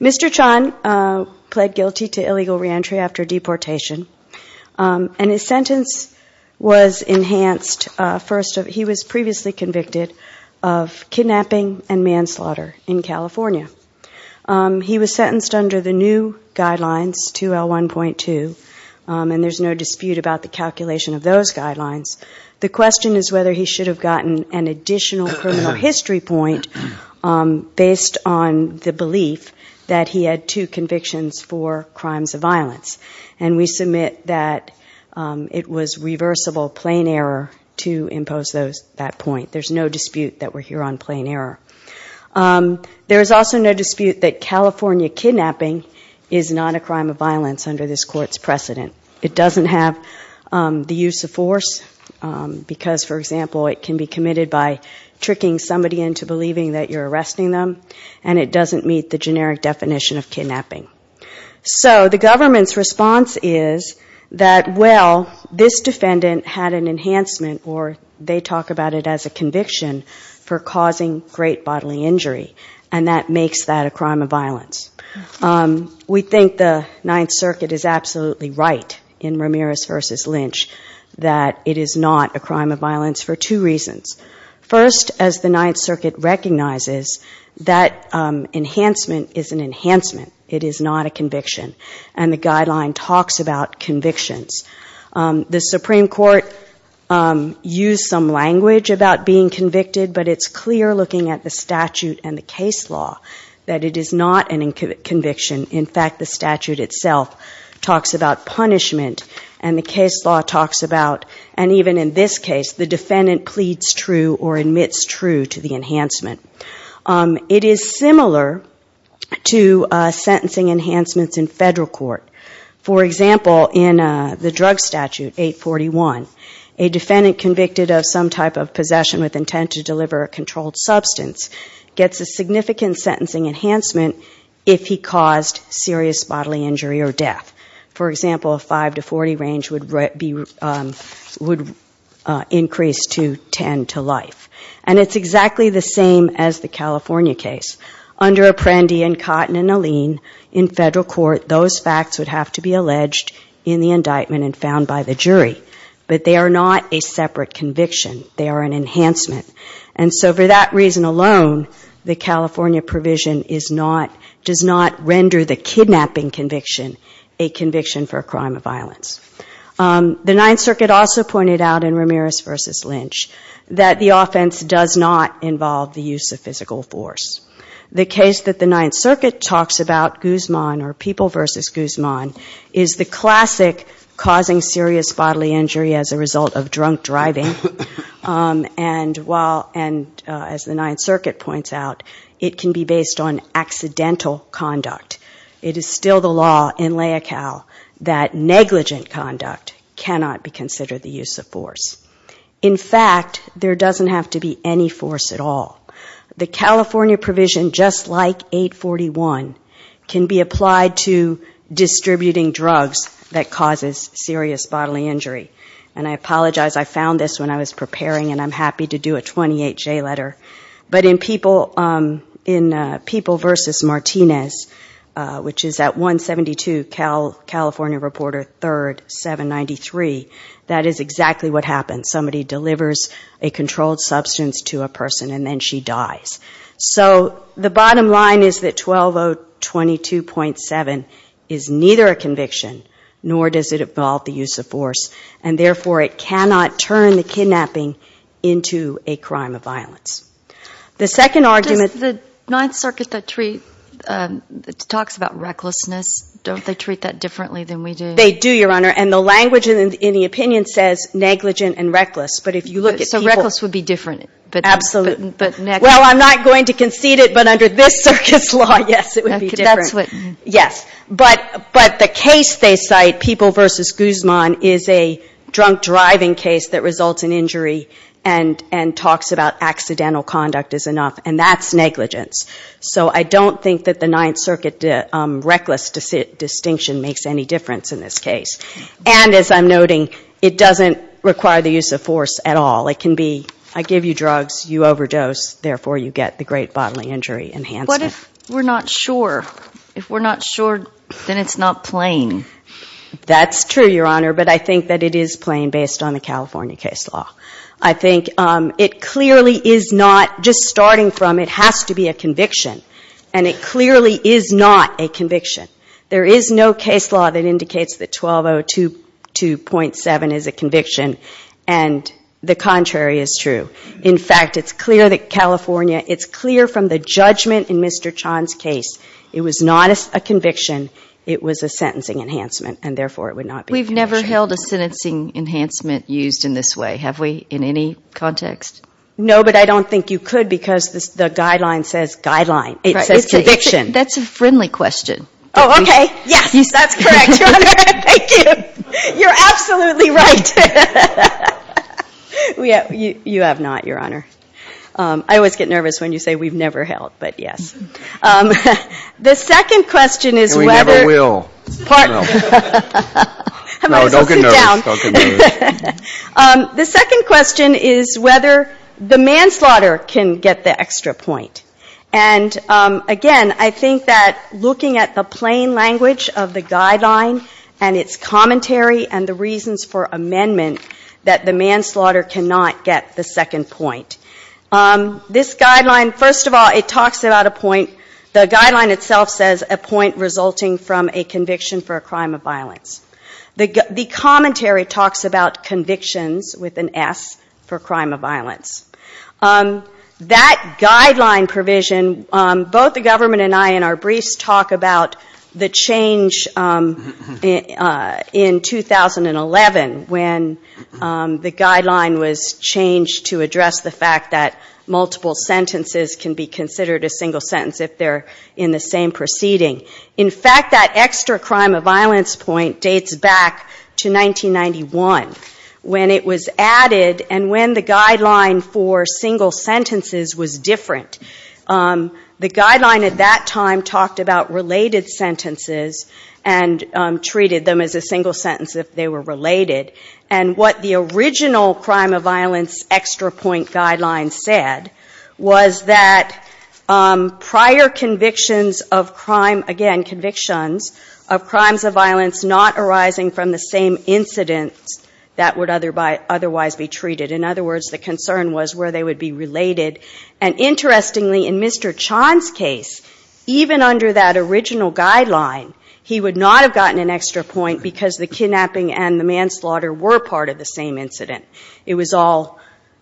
Mr. Chan-Xool pled guilty to illegal reentry after deportation, and his sentence was enhanced. He was previously convicted of kidnapping and manslaughter in California. He was sentenced under the new guidelines, 2L1.2, and there's no dispute about the calculation of those guidelines. The question is whether he should have gotten an additional criminal history point based on the belief that he had two convictions for crimes of violence, and we that point. There's no dispute that we're here on plain error. There is also no dispute that California kidnapping is not a crime of violence under this Court's precedent. It doesn't have the use of force, because, for example, it can be committed by tricking somebody into believing that you're arresting them, and it doesn't meet the generic definition of kidnapping. So the government's response is that, well, this defendant had an enhancement or they talk about it as a conviction for causing great bodily injury, and that makes that a crime of violence. We think the Ninth Circuit is absolutely right in Ramirez v. Lynch that it is not a crime of violence for two reasons. First, as the Ninth Circuit recognizes that enhancement is an enhancement. It is not a conviction, and the guideline talks about convictions. The Supreme Court used some language about being convicted, but it's clear looking at the statute and the case law that it is not a conviction. In fact, the statute itself talks about punishment, and the case law talks about, and even in this case, the defendant pleads true or admits true to the enhancement. It is similar to sentencing enhancements in federal court. For example, in the drug statute 841, a defendant convicted of some type of possession with intent to deliver a controlled substance gets a significant sentencing enhancement if he caused serious bodily injury or death. For example, a 5 to 40 range would increase to 10 to life. And it's exactly the same as the California case. Under Apprendi and Cotton and Alene, in federal court, those facts would have to be alleged in the indictment and found by the jury. But they are not a separate conviction. They are an enhancement. And so for that reason alone, the California provision does not render the kidnapping conviction a conviction for a crime of violence. The Ninth Circuit also pointed out in Ramirez v. Lynch that the offense does not involve the use of physical force. The case that the Ninth Circuit talks about, Guzman or People v. Guzman, is the classic causing serious bodily injury as a result of drunk driving. And while, and as the Ninth Circuit points out, it can be based on accidental conduct. It is still the law in LAICAL that negligent conduct cannot be considered the use of force. In fact, there doesn't have to be any force at all. The California provision, just like 841, can be applied to distributing drugs that causes serious bodily injury. And I apologize, I found this when I was preparing and I'm happy to do a 28-J letter. But in People v. Martinez, which is at 172 California Reporter 3rd, 793, that is exactly what happens. Somebody delivers a controlled substance to a person and then she dies. So the bottom line is that 12022.7 is neither a conviction nor does it involve the use of force and therefore it cannot turn the kidnapping into a crime of violence. The second argument- Does the Ninth Circuit that talks about recklessness, don't they treat that differently than we do? They do, Your Honor, and the language in the opinion says negligent and reckless, but if you look at people- So reckless would be different, but- Absolutely. Well, I'm not going to concede it, but under this circuit's law, yes, it would be different. Yes. But the case they cite, People v. Guzman, is a drunk driving case that results in injury and talks about accidental conduct is enough, and that's negligence. So I don't think that the Ninth Circuit reckless distinction makes any difference in this case. And as I'm noting, it doesn't require the use of force at all. It can be, I give you drugs, you overdose, therefore you get the great bodily injury enhancement. What if we're not sure? If we're not sure, then it's not plain. That's true, Your Honor, but I think that it is plain based on the California case law. I think it clearly is not, just starting from, it has to be a conviction, and it clearly is not a conviction. There is no case law that indicates that 1202.7 is a conviction, and the contrary is true. In fact, it's clear that California, it's clear from the judgment in Mr. Chan's case, it was not a conviction, it was a sentencing enhancement, and therefore it would not be a conviction. We've never held a sentencing enhancement used in this way, have we, in any context? No, but I don't think you could, because the guideline says guideline. It says conviction. That's a friendly question. Oh, okay, yes, that's correct, Your Honor. Thank you. You're absolutely right. You have not, Your Honor. I always get nervous when you say we've never held, but yes. The second question is whether... And we never will. No, don't get nervous. The second question is whether the manslaughter can get the extra point. And again, I think that looking at the plain language of the guideline and its commentary and the reasons for amendment, that the manslaughter cannot get the second point. This guideline, first of all, it talks about a point, the guideline itself says a point resulting from a conviction for a crime of violence. The commentary talks about convictions with an S for crime of violence. That guideline provision, both the government and I in our briefs talk about the change in 2011 when the guideline was changed to address the fact that multiple sentences can be considered a single sentence if they're in the same proceeding. In fact, that extra crime of violence point dates back to 1991 when it was added and when the guideline for single sentences was different. The guideline at that time talked about related sentences and treated them as a single sentence if they were related. And what the original crime of violence extra point guideline said was that prior convictions of crime of violence again, convictions of crimes of violence not arising from the same incident that would otherwise be treated. In other words, the concern was where they would be related. And interestingly, in Mr. Chan's case, even under that original guideline, he would not have gotten an extra point because the kidnapping and the manslaughter were part of the same incident. It was all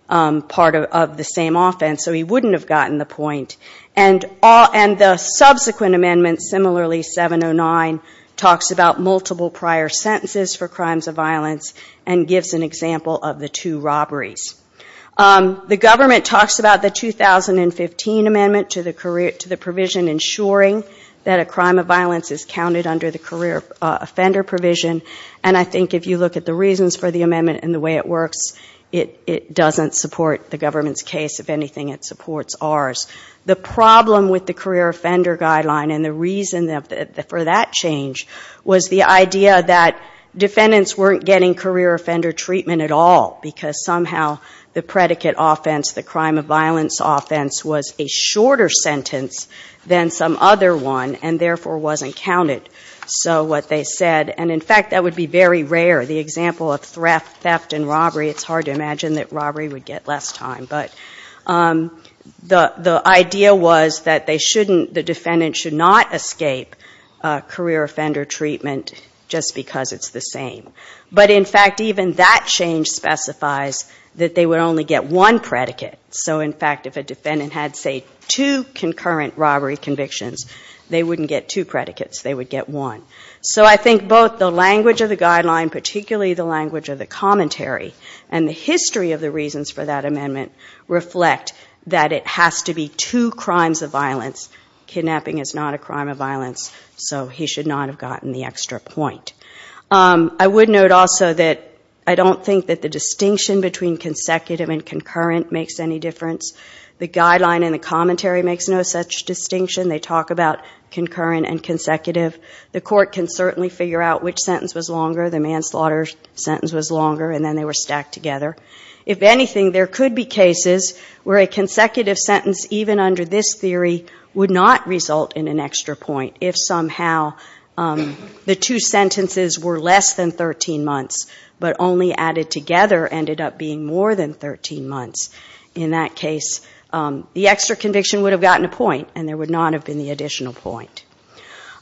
part of the same offense, so he wouldn't have gotten the point. And the subsequent amendment, similarly 709, talks about multiple prior sentences for crimes of violence and gives an example of the two robberies. The government talks about the 2015 amendment to the provision ensuring that a crime of violence is counted under the career offender provision. And I think if you look at the reasons for the amendment and the way it works, it doesn't support the government's case. If anything, it supports ours. The problem with the career offender guideline and the reason for that change was the idea that defendants weren't getting career offender treatment at all because somehow the predicate offense, the crime of violence offense, was a shorter sentence than some other one and therefore wasn't counted. So what they said, and in fact that would be very rare, the example of theft and robbery, it's hard to imagine that robbery would get less time. But the idea was that the defendant should not escape career offender treatment just because it's the same. But in fact even that change specifies that they would only get one predicate. So in fact if a defendant had, say, two concurrent robbery convictions, they wouldn't get two predicates, they would get one. So I think both the language of the guideline, particularly the language of the commentary and the history of the reasons for that amendment reflect that it has to be two crimes of violence. Kidnapping is not a crime of violence, so he should not have gotten the extra point. I would note also that I don't think that the distinction between consecutive and concurrent makes any difference. The guideline and the commentary makes no such distinction. They talk about concurrent and consecutive. The court can certainly figure out which sentence was longer, the manslaughter sentence was longer, and then they were stacked together. If anything, there could be cases where a consecutive sentence, even under this theory, would not result in an extra point if somehow the two sentences were less than 13 months but only added together ended up being more than 13 months. In that case, the extra conviction would have gotten a point and there would not have been the additional point.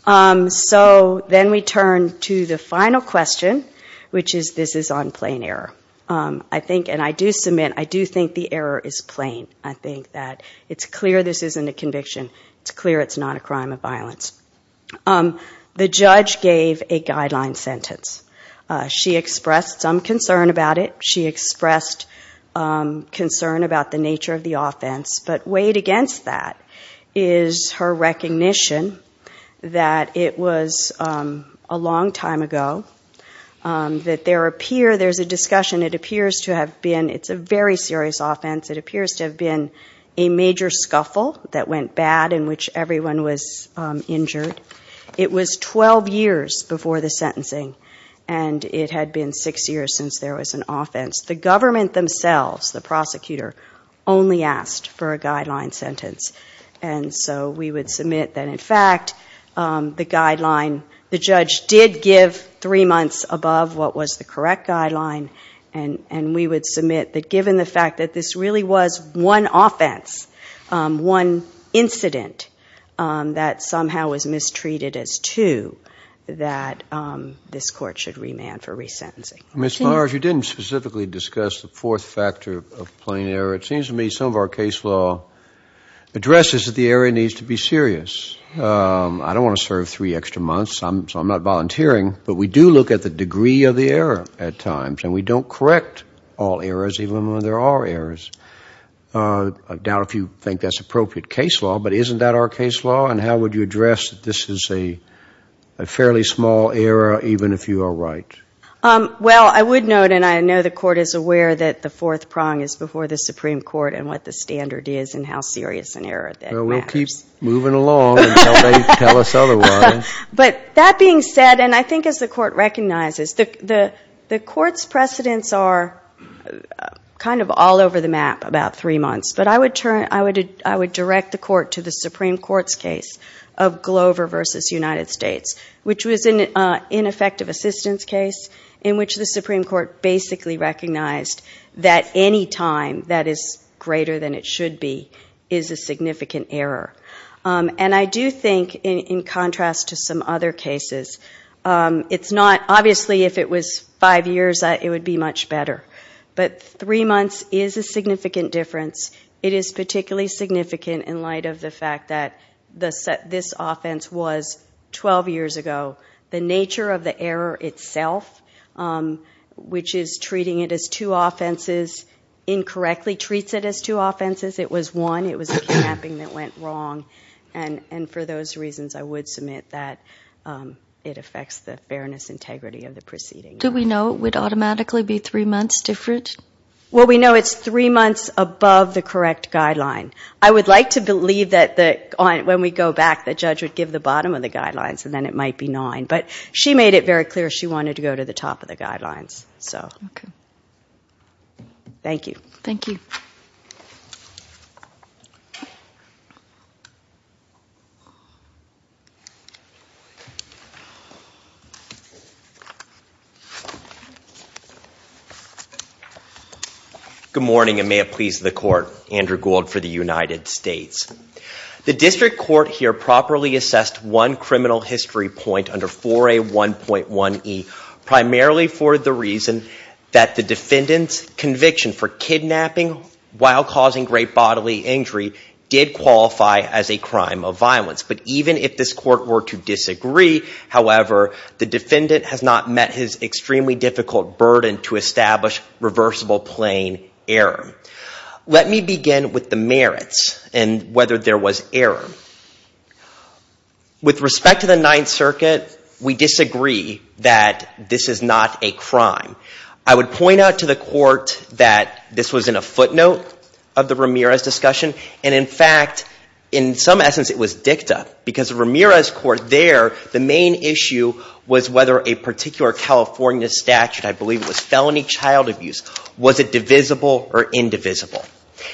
So then we turn to the final question, which is this is on plain error. I think, and I do submit, I do think the error is plain. I think that it's clear this isn't a conviction. It's clear it's not a crime of violence. The judge gave a guideline sentence. She expressed some concern about it. She expressed concern about the nature of the offense, but weighed against that is her recognition that it was a long time ago, that there appear, there's a discussion, it appears to have been, it's a very serious offense, it appears to have been a major scuffle that went bad in which everyone was injured. It was 12 years before the sentencing and it had been six years since there was an offense. The government themselves, the prosecutor, only asked for a guideline sentence. And so we would submit that in fact the guideline, the judge did give three months above what was the correct guideline and we would submit that given the fact that this really was one offense, one incident that somehow was mistreated as two, that this court should remand for resentencing. Ms. Meyers, you didn't specifically discuss the fourth factor of plain error. It seems to me some of our case law addresses that the error needs to be serious. I don't want to serve three extra months, so I'm not volunteering, but we do look at the degree of the error at times and we don't correct all errors, even when there are errors. I doubt if you think that's appropriate case law, but isn't that our case law and how would you address that this is a fairly small error even if you are right? Well, I would note and I know the court is aware that the fourth prong is before the Supreme Court and what the standard is and how serious an error that matters. Well, we'll keep moving along until they tell us otherwise. But that being said, and I think as the court recognizes, the court's precedents are kind of all over the map about three months, but I would direct the court to the Supreme Court's case of Glover v. United States, which was an ineffective assistance case in which the Supreme Court basically recognized that any time that is greater than it should be is a significant error. And I do think in contrast to some other cases, it's not obviously if it was five years, it would be much better, but three months is a significant difference. It is particularly significant in light of the fact that this offense was 12 years ago. The nature of the error itself, which is treating it as two offenses, incorrectly treats it as two offenses. It was one. It was a capping that went wrong. And for those reasons, I would submit that it affects the fairness integrity of the proceeding. Do we know it would automatically be three months different? Well, we know it's three months above the correct guideline. I would like to believe that when we go back, the judge would give the bottom of the guidelines, and then it might be nine. But she made it very clear she wanted to go to the top of the guidelines. So, thank you. Thank you. Good morning, and may it please the court. Andrew Gould for the United States. The district court here properly assessed one criminal history point under 4A1.1e, primarily for the reason that the defendant's conviction for kidnapping while causing great bodily injury did qualify as a crime of violence. But even if this court were to disagree, however, the defendant has not met his extremely difficult burden to establish reversible plain error. Let me begin with the merits and whether there was error. With respect to the Ninth Circuit, we disagree that this is not a crime. I would point out to the court that this was in a footnote of the Ramirez discussion, and in fact, in some essence, it was dicta. Because the Ramirez court there, the main issue was whether a particular California statute, I believe it was felony child abuse, was it divisible or indivisible.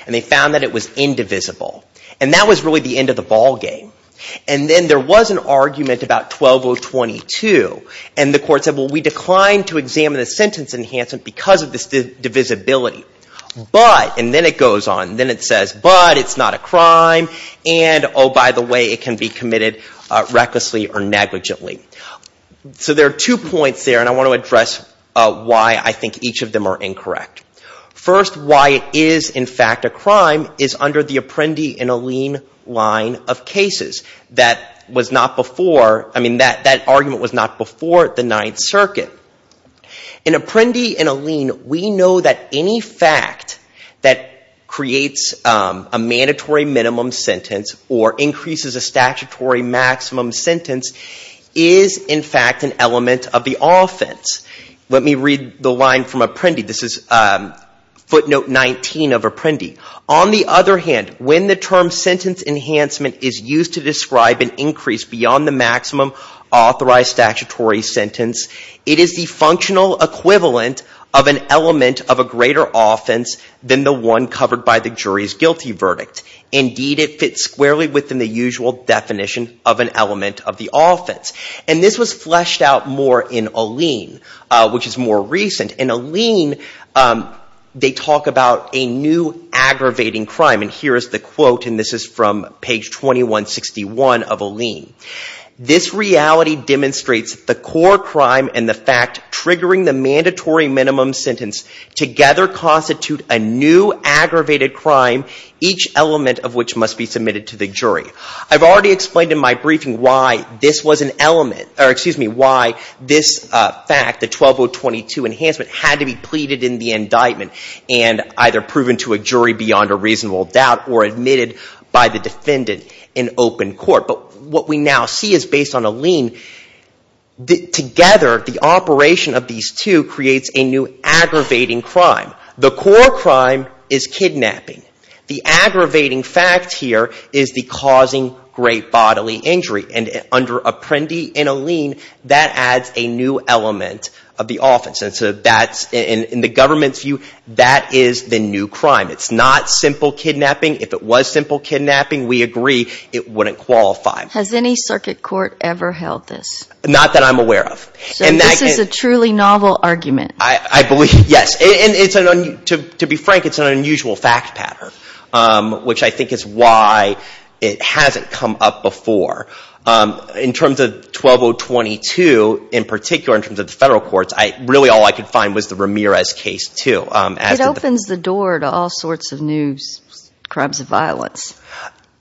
And they found that it was indivisible. And that was really the end of the ballgame. And then there was an argument about 12022, and the court said, well, we declined to examine the sentence enhancement because of this divisibility. But, and then it goes on, and then it says, but it's not a crime, and oh, by the way, it can be committed recklessly or negligently. So there are two points there, and I want to address why I think each of them are incorrect. First, why it is, in fact, a crime is under the Apprendi and Alleen line of cases. That was not before, I mean, that argument was not before the Ninth Circuit. In Apprendi and Alleen, we know that any fact that creates a mandatory minimum sentence or increases a statutory maximum sentence is, in fact, an element of the offense. Let me read the line from Apprendi. This is footnote 19 of Apprendi. On the other hand, when the term sentence enhancement is used to describe an increase beyond the maximum authorized statutory sentence, it is the functional equivalent of an element of a greater offense than the one covered by the jury's guilty verdict. Indeed, it fits squarely within the usual definition of an element of the offense. And this was fleshed out more in Alleen, which is more recent. In Alleen, they talk about a new aggravating crime, and here is the quote, and this is from page 2161 of Alleen. This reality demonstrates the core crime and the fact triggering the mandatory minimum sentence together constitute a new aggravated crime, each element of which must be submitted to the jury. I've already explained in my briefing why this was an element, or excuse me, not proven to a jury beyond a reasonable doubt or admitted by the defendant in open court. But what we now see is based on Alleen, together the operation of these two creates a new aggravating crime. The core crime is kidnapping. The aggravating fact here is the causing great bodily injury. And under Apprendi in Alleen, that adds a new element of the offense. And so that's in the government's view, that is the new crime. It's not simple kidnapping. If it was simple kidnapping, we agree, it wouldn't qualify. Has any circuit court ever held this? Not that I'm aware of. So this is a truly novel argument. I believe, yes. And to be frank, it's an unusual fact pattern, which I think is why it hasn't come up before. In terms of 12022, in particular in terms of the federal courts, really all I could find was the Ramirez case, too. It opens the door to all sorts of new crimes of violence.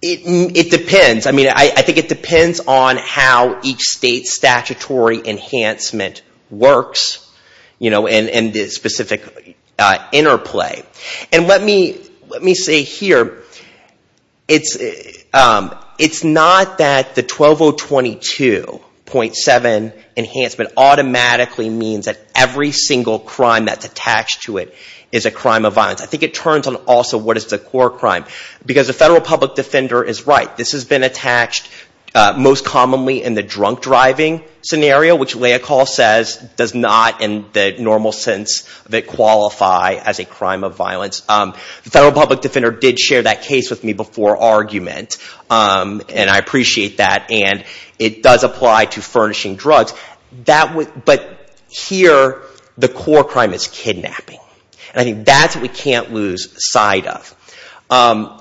It depends. I mean, I think it depends on how each state's statutory enhancement works, and the specific interplay. And let me say here, it's not that the 12022.7 enhancement automatically means that every single crime that's attached to it is a crime of violence. I think it turns on also what is the core crime. Because the federal public defender is right. This has been attached most commonly in the drunk driving scenario, which Leocal says does not, in the normal sense, qualify as a crime of violence. The federal public defender did share that case with me before argument, and I appreciate that. And it does apply to furnishing drugs. But here, the core crime is kidnapping, and I think that's what we can't lose sight of. And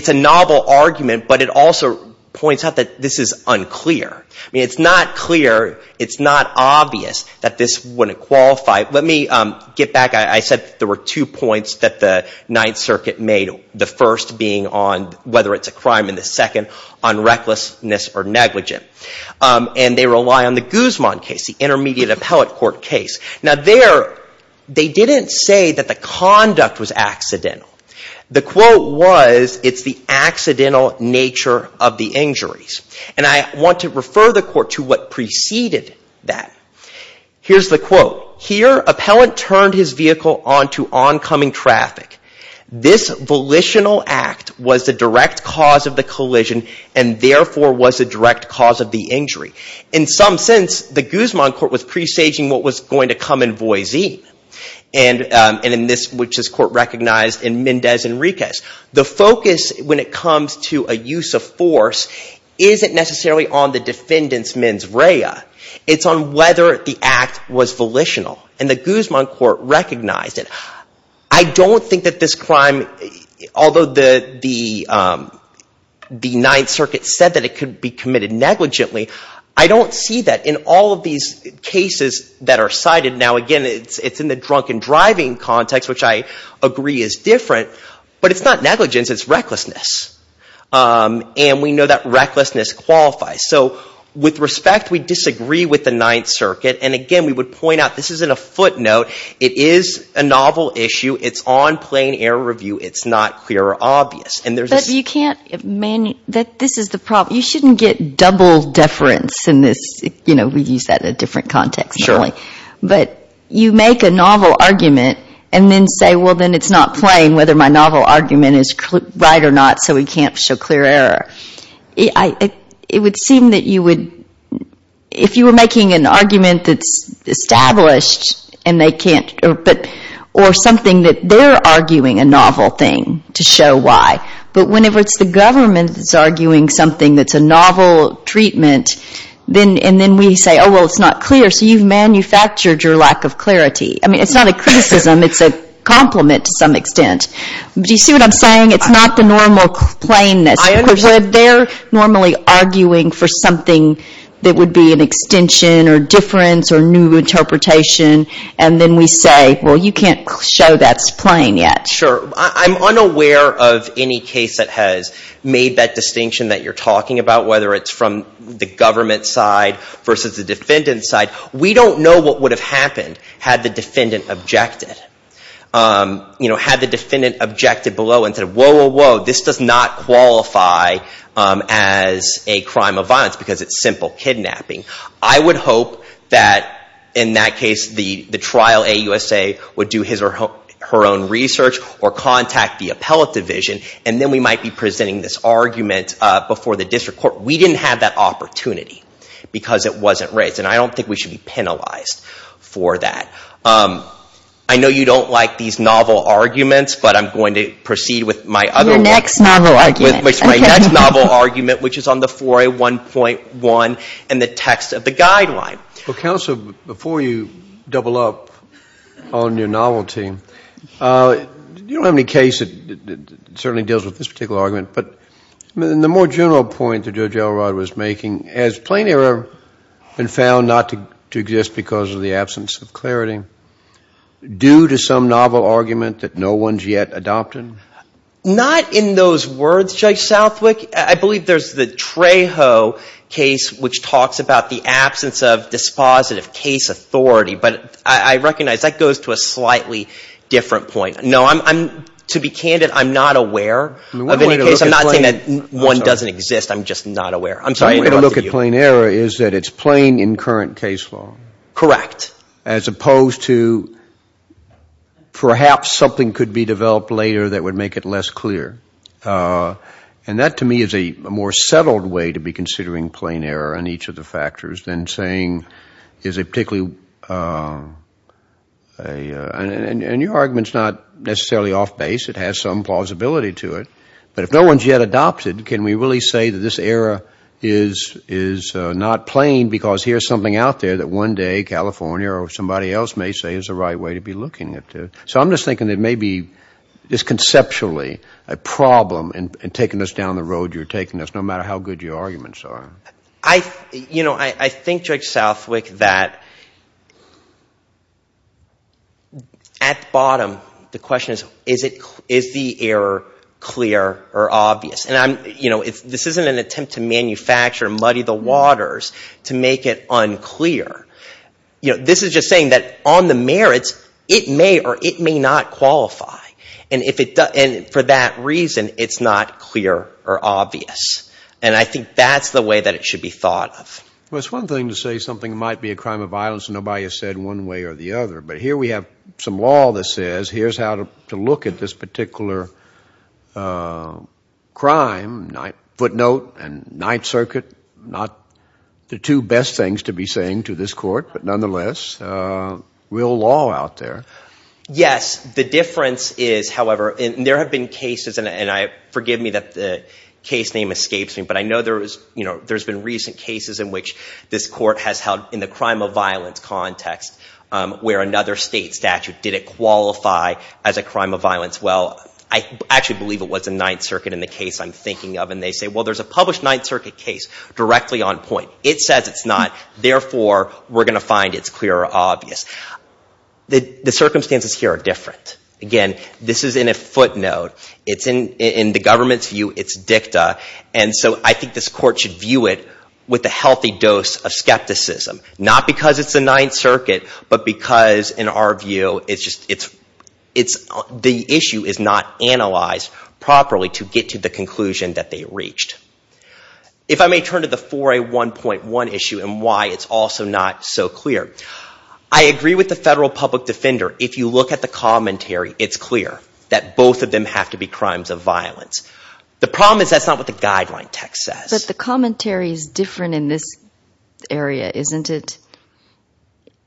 it's a novel argument, but it also points out that this is unclear. I mean, it's not clear, it's not obvious that this wouldn't qualify. Let me get back. I said there were two points that the Ninth Circuit made, the first being whether it's a crime in the second, on recklessness or negligence. And they rely on the Guzman case, the intermediate appellate court case. Now there, they didn't say that the conduct was accidental. The quote was, it's the accidental nature of the injuries. And I want to refer the court to what preceded that. Here's the quote. Here, appellant turned his vehicle onto oncoming traffic. This volitional act was the direct cause of the collision, and therefore was the direct cause of the injury. In some sense, the Guzman court was presaging what was going to come in Voisin, which this court recognized in Mendez Enriquez. The focus, when it comes to a use of force, isn't necessarily on the defendant's mens rea. It's on whether the act was volitional. And the Guzman court recognized it. I don't think that this crime, although the Ninth Circuit said that it could be committed negligently, I don't see that in all of these cases that are cited. Now again, it's in the drunk and driving context, which I agree is different. But it's not negligence. It's recklessness. And we know that recklessness qualifies. So with respect, we disagree with the Ninth Circuit. And again, we would point out, this isn't a footnote. It is a novel issue. It's on plain error review. It's not clear or obvious. But you can't, this is the problem. You shouldn't get double deference in this. You know, we use that in a different context, but you make a novel argument and then say, well, then it's not plain whether my novel argument is right or not, so we can't show clear error. It would seem that you would, if you were making an argument that's established and they can't, or something that they're arguing a novel thing to show why. But whenever it's the government that's arguing something that's a novel treatment, then we say, oh, well, it's not clear, so you've manufactured your lack of clarity. I mean, it's not a criticism. It's a compliment to some extent. Do you see what I'm saying? It's not the normal plainness. They're normally arguing for something that would be an extension or difference or new interpretation, and then we say, well, you can't show that's plain yet. Sure. I'm unaware of any case that has made that distinction that you're talking about, whether it's from the government side versus the defendant side. We don't know what would have happened had the defendant objected, you know, had the defendant objected below and said, whoa, whoa, whoa, this does not qualify as a crime of violence because it's simple kidnapping. I would hope that, in that case, the trial, AUSA, would do her own research or contact the appellate division, and then we might be presenting this argument before the district court. We didn't have that opportunity because it wasn't raised, and I don't think we should be penalized for that. I know you don't like these novel arguments, but I'm going to proceed with my other one. Your next novel argument. I'm going to proceed with my next novel argument, which is on the 4A1.1 and the text of the guideline. Well, counsel, before you double up on your novel team, you don't have any case that certainly deals with this particular argument, but the more general point that Judge Elrod was making, has plain error been found not to exist because of the absence of clarity due to some novel argument that no one's yet adopted? Not in those words, Judge Southwick. I believe there's the Trejo case, which talks about the absence of dispositive case authority, but I recognize that goes to a slightly different point. No, to be candid, I'm not aware of any case. I'm not saying that one doesn't exist. I'm just not aware. I'm sorry to interrupt you. One way to look at plain error is that it's plain in current case law. Correct. As opposed to perhaps something could be developed later that would make it less clear. And that to me is a more settled way to be considering plain error on each of the factors than saying is it particularly, and your argument's not necessarily off base, it has some plausibility to it, but if no one's yet adopted, can we really say that this error is not plain because here's something out there that one day California or somebody else may say is the right way to be looking at it? So I'm just thinking it may be just conceptually a problem in taking us down the road you're taking us, no matter how good your arguments are. I think, Judge Southwick, that at the bottom, the question is, is the error clear or obvious? And this isn't an attempt to manufacture and muddy the waters to make it unclear. This is just saying that on the merits, it may or it may not qualify. And for that reason, it's not clear or obvious. And I think that's the way that it should be thought of. Well, it's one thing to say something might be a crime of violence and nobody has said one way or the other. But here we have some law that says, here's how to look at this particular crime, footnote and Ninth Circuit, not the two best things to be saying to this court, but nonetheless, real law out there. Yes. The difference is, however, and there have been cases, and forgive me that the case name escapes me, but I know there's been recent cases in which this court has held in the other state statute, did it qualify as a crime of violence? Well, I actually believe it was the Ninth Circuit in the case I'm thinking of. And they say, well, there's a published Ninth Circuit case directly on point. It says it's not, therefore, we're going to find it's clear or obvious. The circumstances here are different. Again, this is in a footnote. It's in the government's view, it's dicta. And so I think this court should view it with a healthy dose of skepticism. Not because it's the Ninth Circuit, but because, in our view, it's just, it's, the issue is not analyzed properly to get to the conclusion that they reached. If I may turn to the 4A1.1 issue and why it's also not so clear. I agree with the federal public defender. If you look at the commentary, it's clear that both of them have to be crimes of violence. The problem is that's not what the guideline text says. But the commentary is different in this area, isn't it?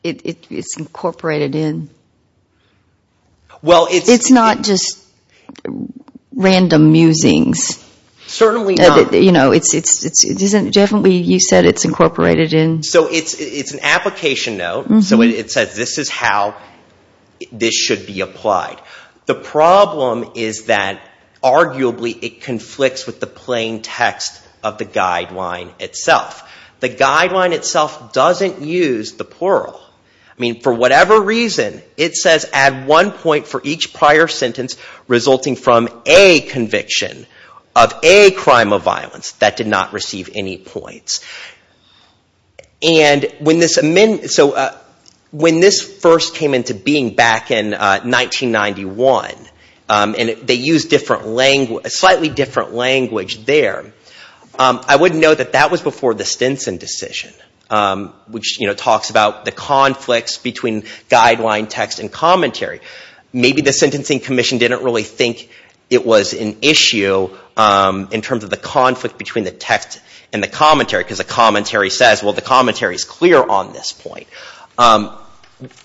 It's incorporated in. Well, it's. It's not just random musings. Certainly not. You know, it's, it's, it's, it isn't, definitely you said it's incorporated in. So it's, it's an application note. So it says this is how this should be applied. The problem is that, arguably, it conflicts with the plain text of the guideline itself. The guideline itself doesn't use the plural. I mean, for whatever reason, it says add one point for each prior sentence resulting from a conviction of a crime of violence that did not receive any points. And when this, so when this first came into being back in 1991, and they used different language, a slightly different language there, I wouldn't know that that was before the Stinson decision, which, you know, talks about the conflicts between guideline text and commentary. Maybe the Sentencing Commission didn't really think it was an issue in terms of the conflict between the text and the commentary, because the commentary says, well, the commentary is clear on this point.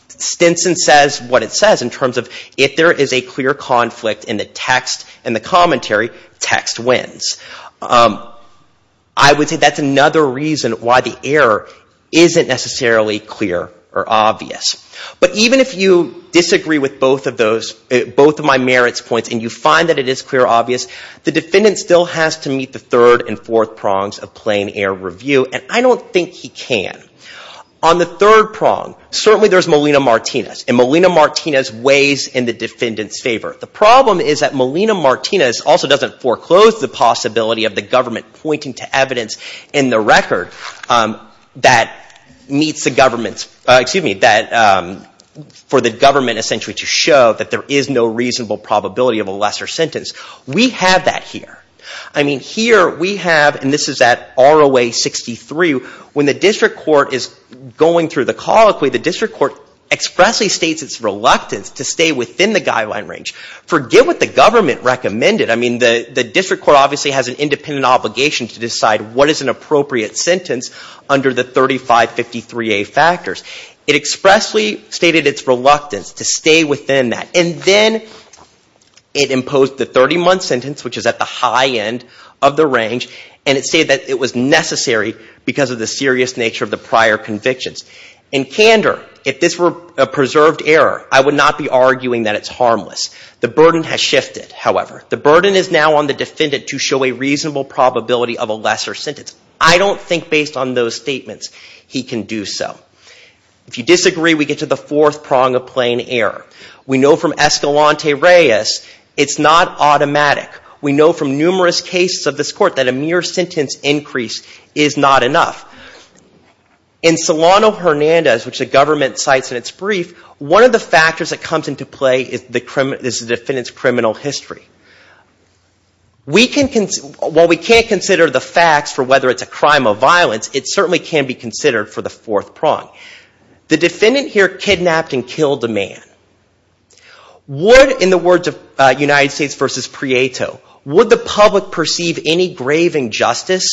Stinson says what it says in terms of if there is a clear conflict in the text and the commentary, text wins. I would say that's another reason why the error isn't necessarily clear or obvious. But even if you disagree with both of those, both of my merits points, and you find that it is clear or obvious, the defendant still has to meet the third and fourth prongs of plain error review, and I don't think he can. On the third prong, certainly there's Molina-Martinez, and Molina-Martinez weighs in the defendant's favor. The problem is that Molina-Martinez also doesn't foreclose the possibility of the government pointing to evidence in the record that meets the government's, excuse me, for the government essentially to show that there is no reasonable probability of a lesser sentence. We have that here. I mean, here we have, and this is at ROA 63, when the district court is going through the colloquy, the district court expressly states its reluctance to stay within the guideline range. Forget what the government recommended. I mean, the district court obviously has an independent obligation to decide what is an appropriate sentence under the 3553A factors. It expressly stated its reluctance to stay within that, and then it imposed the 30-month sentence, which is at the high end of the range, and it stated that it was necessary because of the serious nature of the prior convictions. In candor, if this were a preserved error, I would not be arguing that it's harmless. The burden has shifted, however. The burden is now on the defendant to show a reasonable probability of a lesser sentence. I don't think, based on those statements, he can do so. If you disagree, we get to the fourth prong of plain error. We know from Escalante-Reyes it's not automatic. We know from numerous cases of this court that a mere sentence increase is not enough. In Solano-Hernandez, which the government cites in its brief, one of the factors that comes into play is the defendant's criminal history. While we can't consider the facts for whether it's a crime of violence, it certainly can be considered for the fourth prong. The defendant here kidnapped and killed a man. Would, in the words of United States v. Prieto, would the public perceive any grave injustice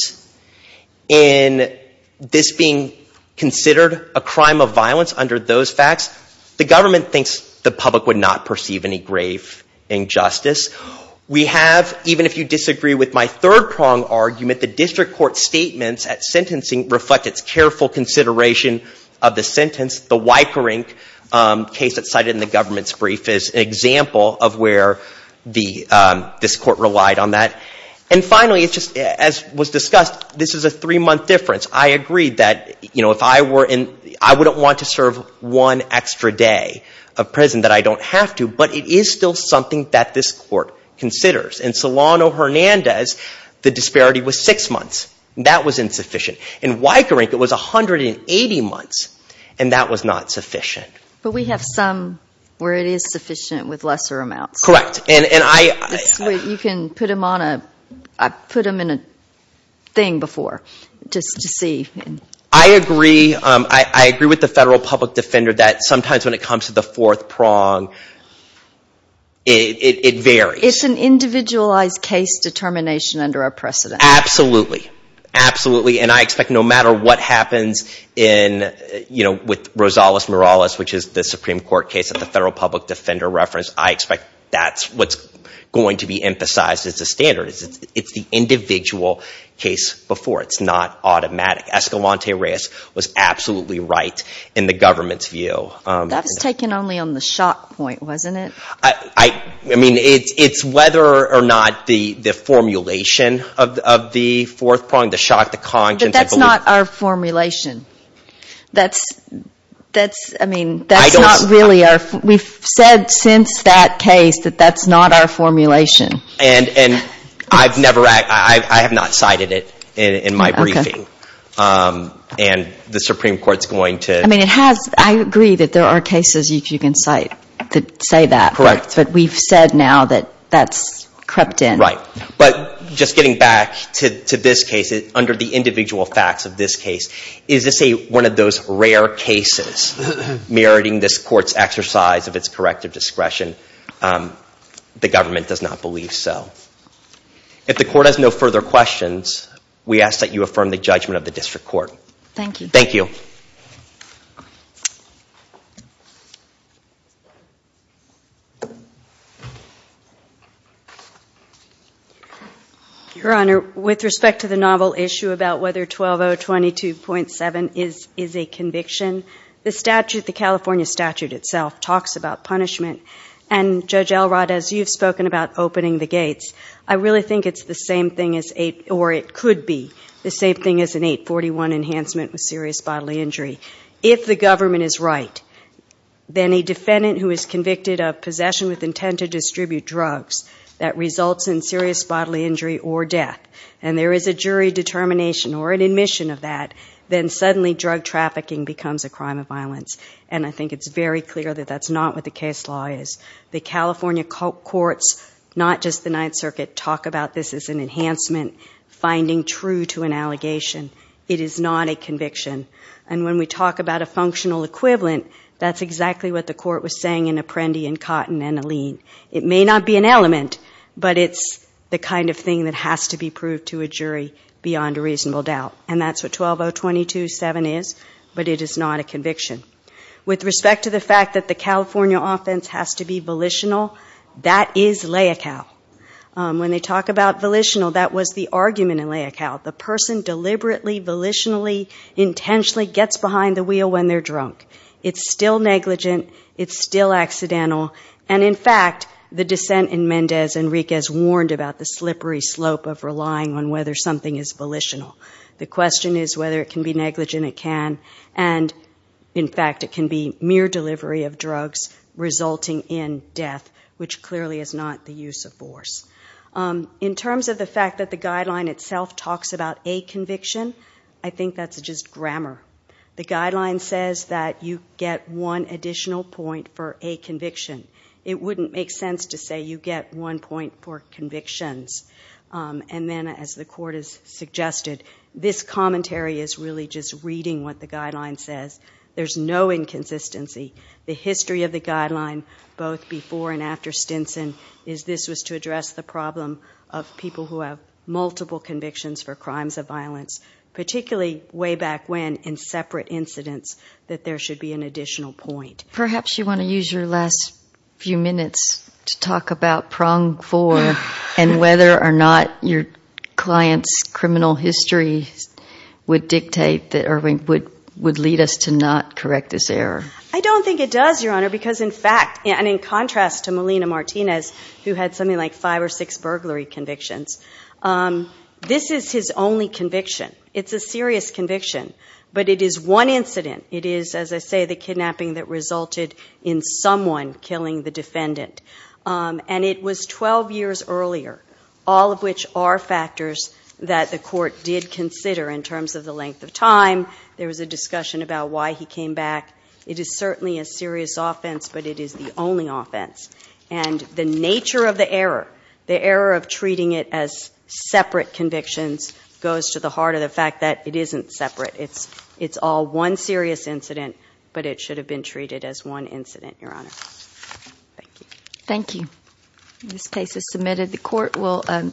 in this being considered a crime of violence under those facts? The government thinks the public would not perceive any grave injustice. We have, even if you disagree with my third prong argument, the district court's statements at sentencing reflect its careful consideration of the sentence. The Weickerink case that's cited in the government's brief is an example of where this court relied on that. And finally, as was discussed, this is a three-month difference. I agreed that, you know, if I were in, I wouldn't want to serve one extra day of prison that I don't have to, but it is still something that this court considers. In Solano-Hernandez, the disparity was six months. That was insufficient. In Weickerink, it was 180 months, and that was not sufficient. But we have some where it is sufficient with lesser amounts. Correct. You can put him on a, put him in a thing before, just to see. I agree. I agree with the federal public defender that sometimes when it comes to the fourth prong, it varies. It's an individualized case determination under our precedent. Absolutely. Absolutely. And I expect no matter what happens in, you know, with Rosales-Morales, which is the Supreme Court public defender reference, I expect that's what's going to be emphasized as a standard. It's the individual case before. It's not automatic. Escalante-Reyes was absolutely right in the government's view. That was taken only on the shock point, wasn't it? I mean, it's whether or not the formulation of the fourth prong, the shock, the conscience. But that's not our formulation. That's, I mean, that's not really our. We've said since that case that that's not our formulation. And I've never, I have not cited it in my briefing. And the Supreme Court's going to. I mean, it has, I agree that there are cases you can cite that say that. Correct. But we've said now that that's crept in. Right. But just getting back to this case, under the individual facts of this case, is this any one of those rare cases meriting this court's exercise of its corrective discretion? The government does not believe so. If the court has no further questions, we ask that you affirm the judgment of the district Thank you. Thank you. Your Honor, with respect to the novel issue about whether 12022.7 is a conviction, the statute, the California statute itself, talks about punishment. And Judge Elrod, as you've spoken about opening the gates, I really think it's the same thing as, or it could be the same thing as an 841 enhancement with serious bodily injury. If the government is right, then a defendant who is convicted of possession with intent to distribute drugs that results in serious bodily injury or death, and there is a jury determination or an admission of that, then suddenly drug trafficking becomes a crime of violence. And I think it's very clear that that's not what the case law is. The California courts, not just the Ninth Circuit, talk about this as an enhancement, finding true to an allegation. It is not a conviction. And when we talk about a functional equivalent, that's exactly what the court was saying in Apprendi and Cotton and Alene. It may not be an element, but it's the kind of thing that has to be proved to a jury beyond a reasonable doubt. And that's what 12022.7 is, but it is not a conviction. With respect to the fact that the California offense has to be volitional, that is lay a cow. The person deliberately, volitionally, intentionally gets behind the wheel when they're drunk. It's still negligent. It's still accidental. And in fact, the dissent in Mendez and Riquez warned about the slippery slope of relying on whether something is volitional. The question is whether it can be negligent. It can. And in fact, it can be mere delivery of drugs resulting in death, which clearly is not the use of force. In terms of the fact that the guideline itself talks about a conviction, I think that's just grammar. The guideline says that you get one additional point for a conviction. It wouldn't make sense to say you get one point for convictions. And then as the court has suggested, this commentary is really just reading what the guideline says. There's no inconsistency. The history of the guideline, both before and after Stinson, is this was to address the problem of people who have multiple convictions for crimes of violence, particularly way back when in separate incidents, that there should be an additional point. Perhaps you want to use your last few minutes to talk about prong four and whether or not your client's criminal history would dictate or would lead us to not correct this error. I don't think it does, Your Honor, because in fact, and in contrast to Melina Martinez, who had something like five or six burglary convictions, this is his only conviction. It's a serious conviction, but it is one incident. It is, as I say, the kidnapping that resulted in someone killing the defendant. And it was 12 years earlier, all of which are factors that the court did consider in terms of the length of time. There was a discussion about why he came back. It is certainly a serious offense, but it is the only offense. And the nature of the error, the error of treating it as separate convictions, goes to the heart of the fact that it isn't separate. It's all one serious incident, but it should have been treated as one incident, Your Honor. Thank you. Thank you. This case is submitted. The court will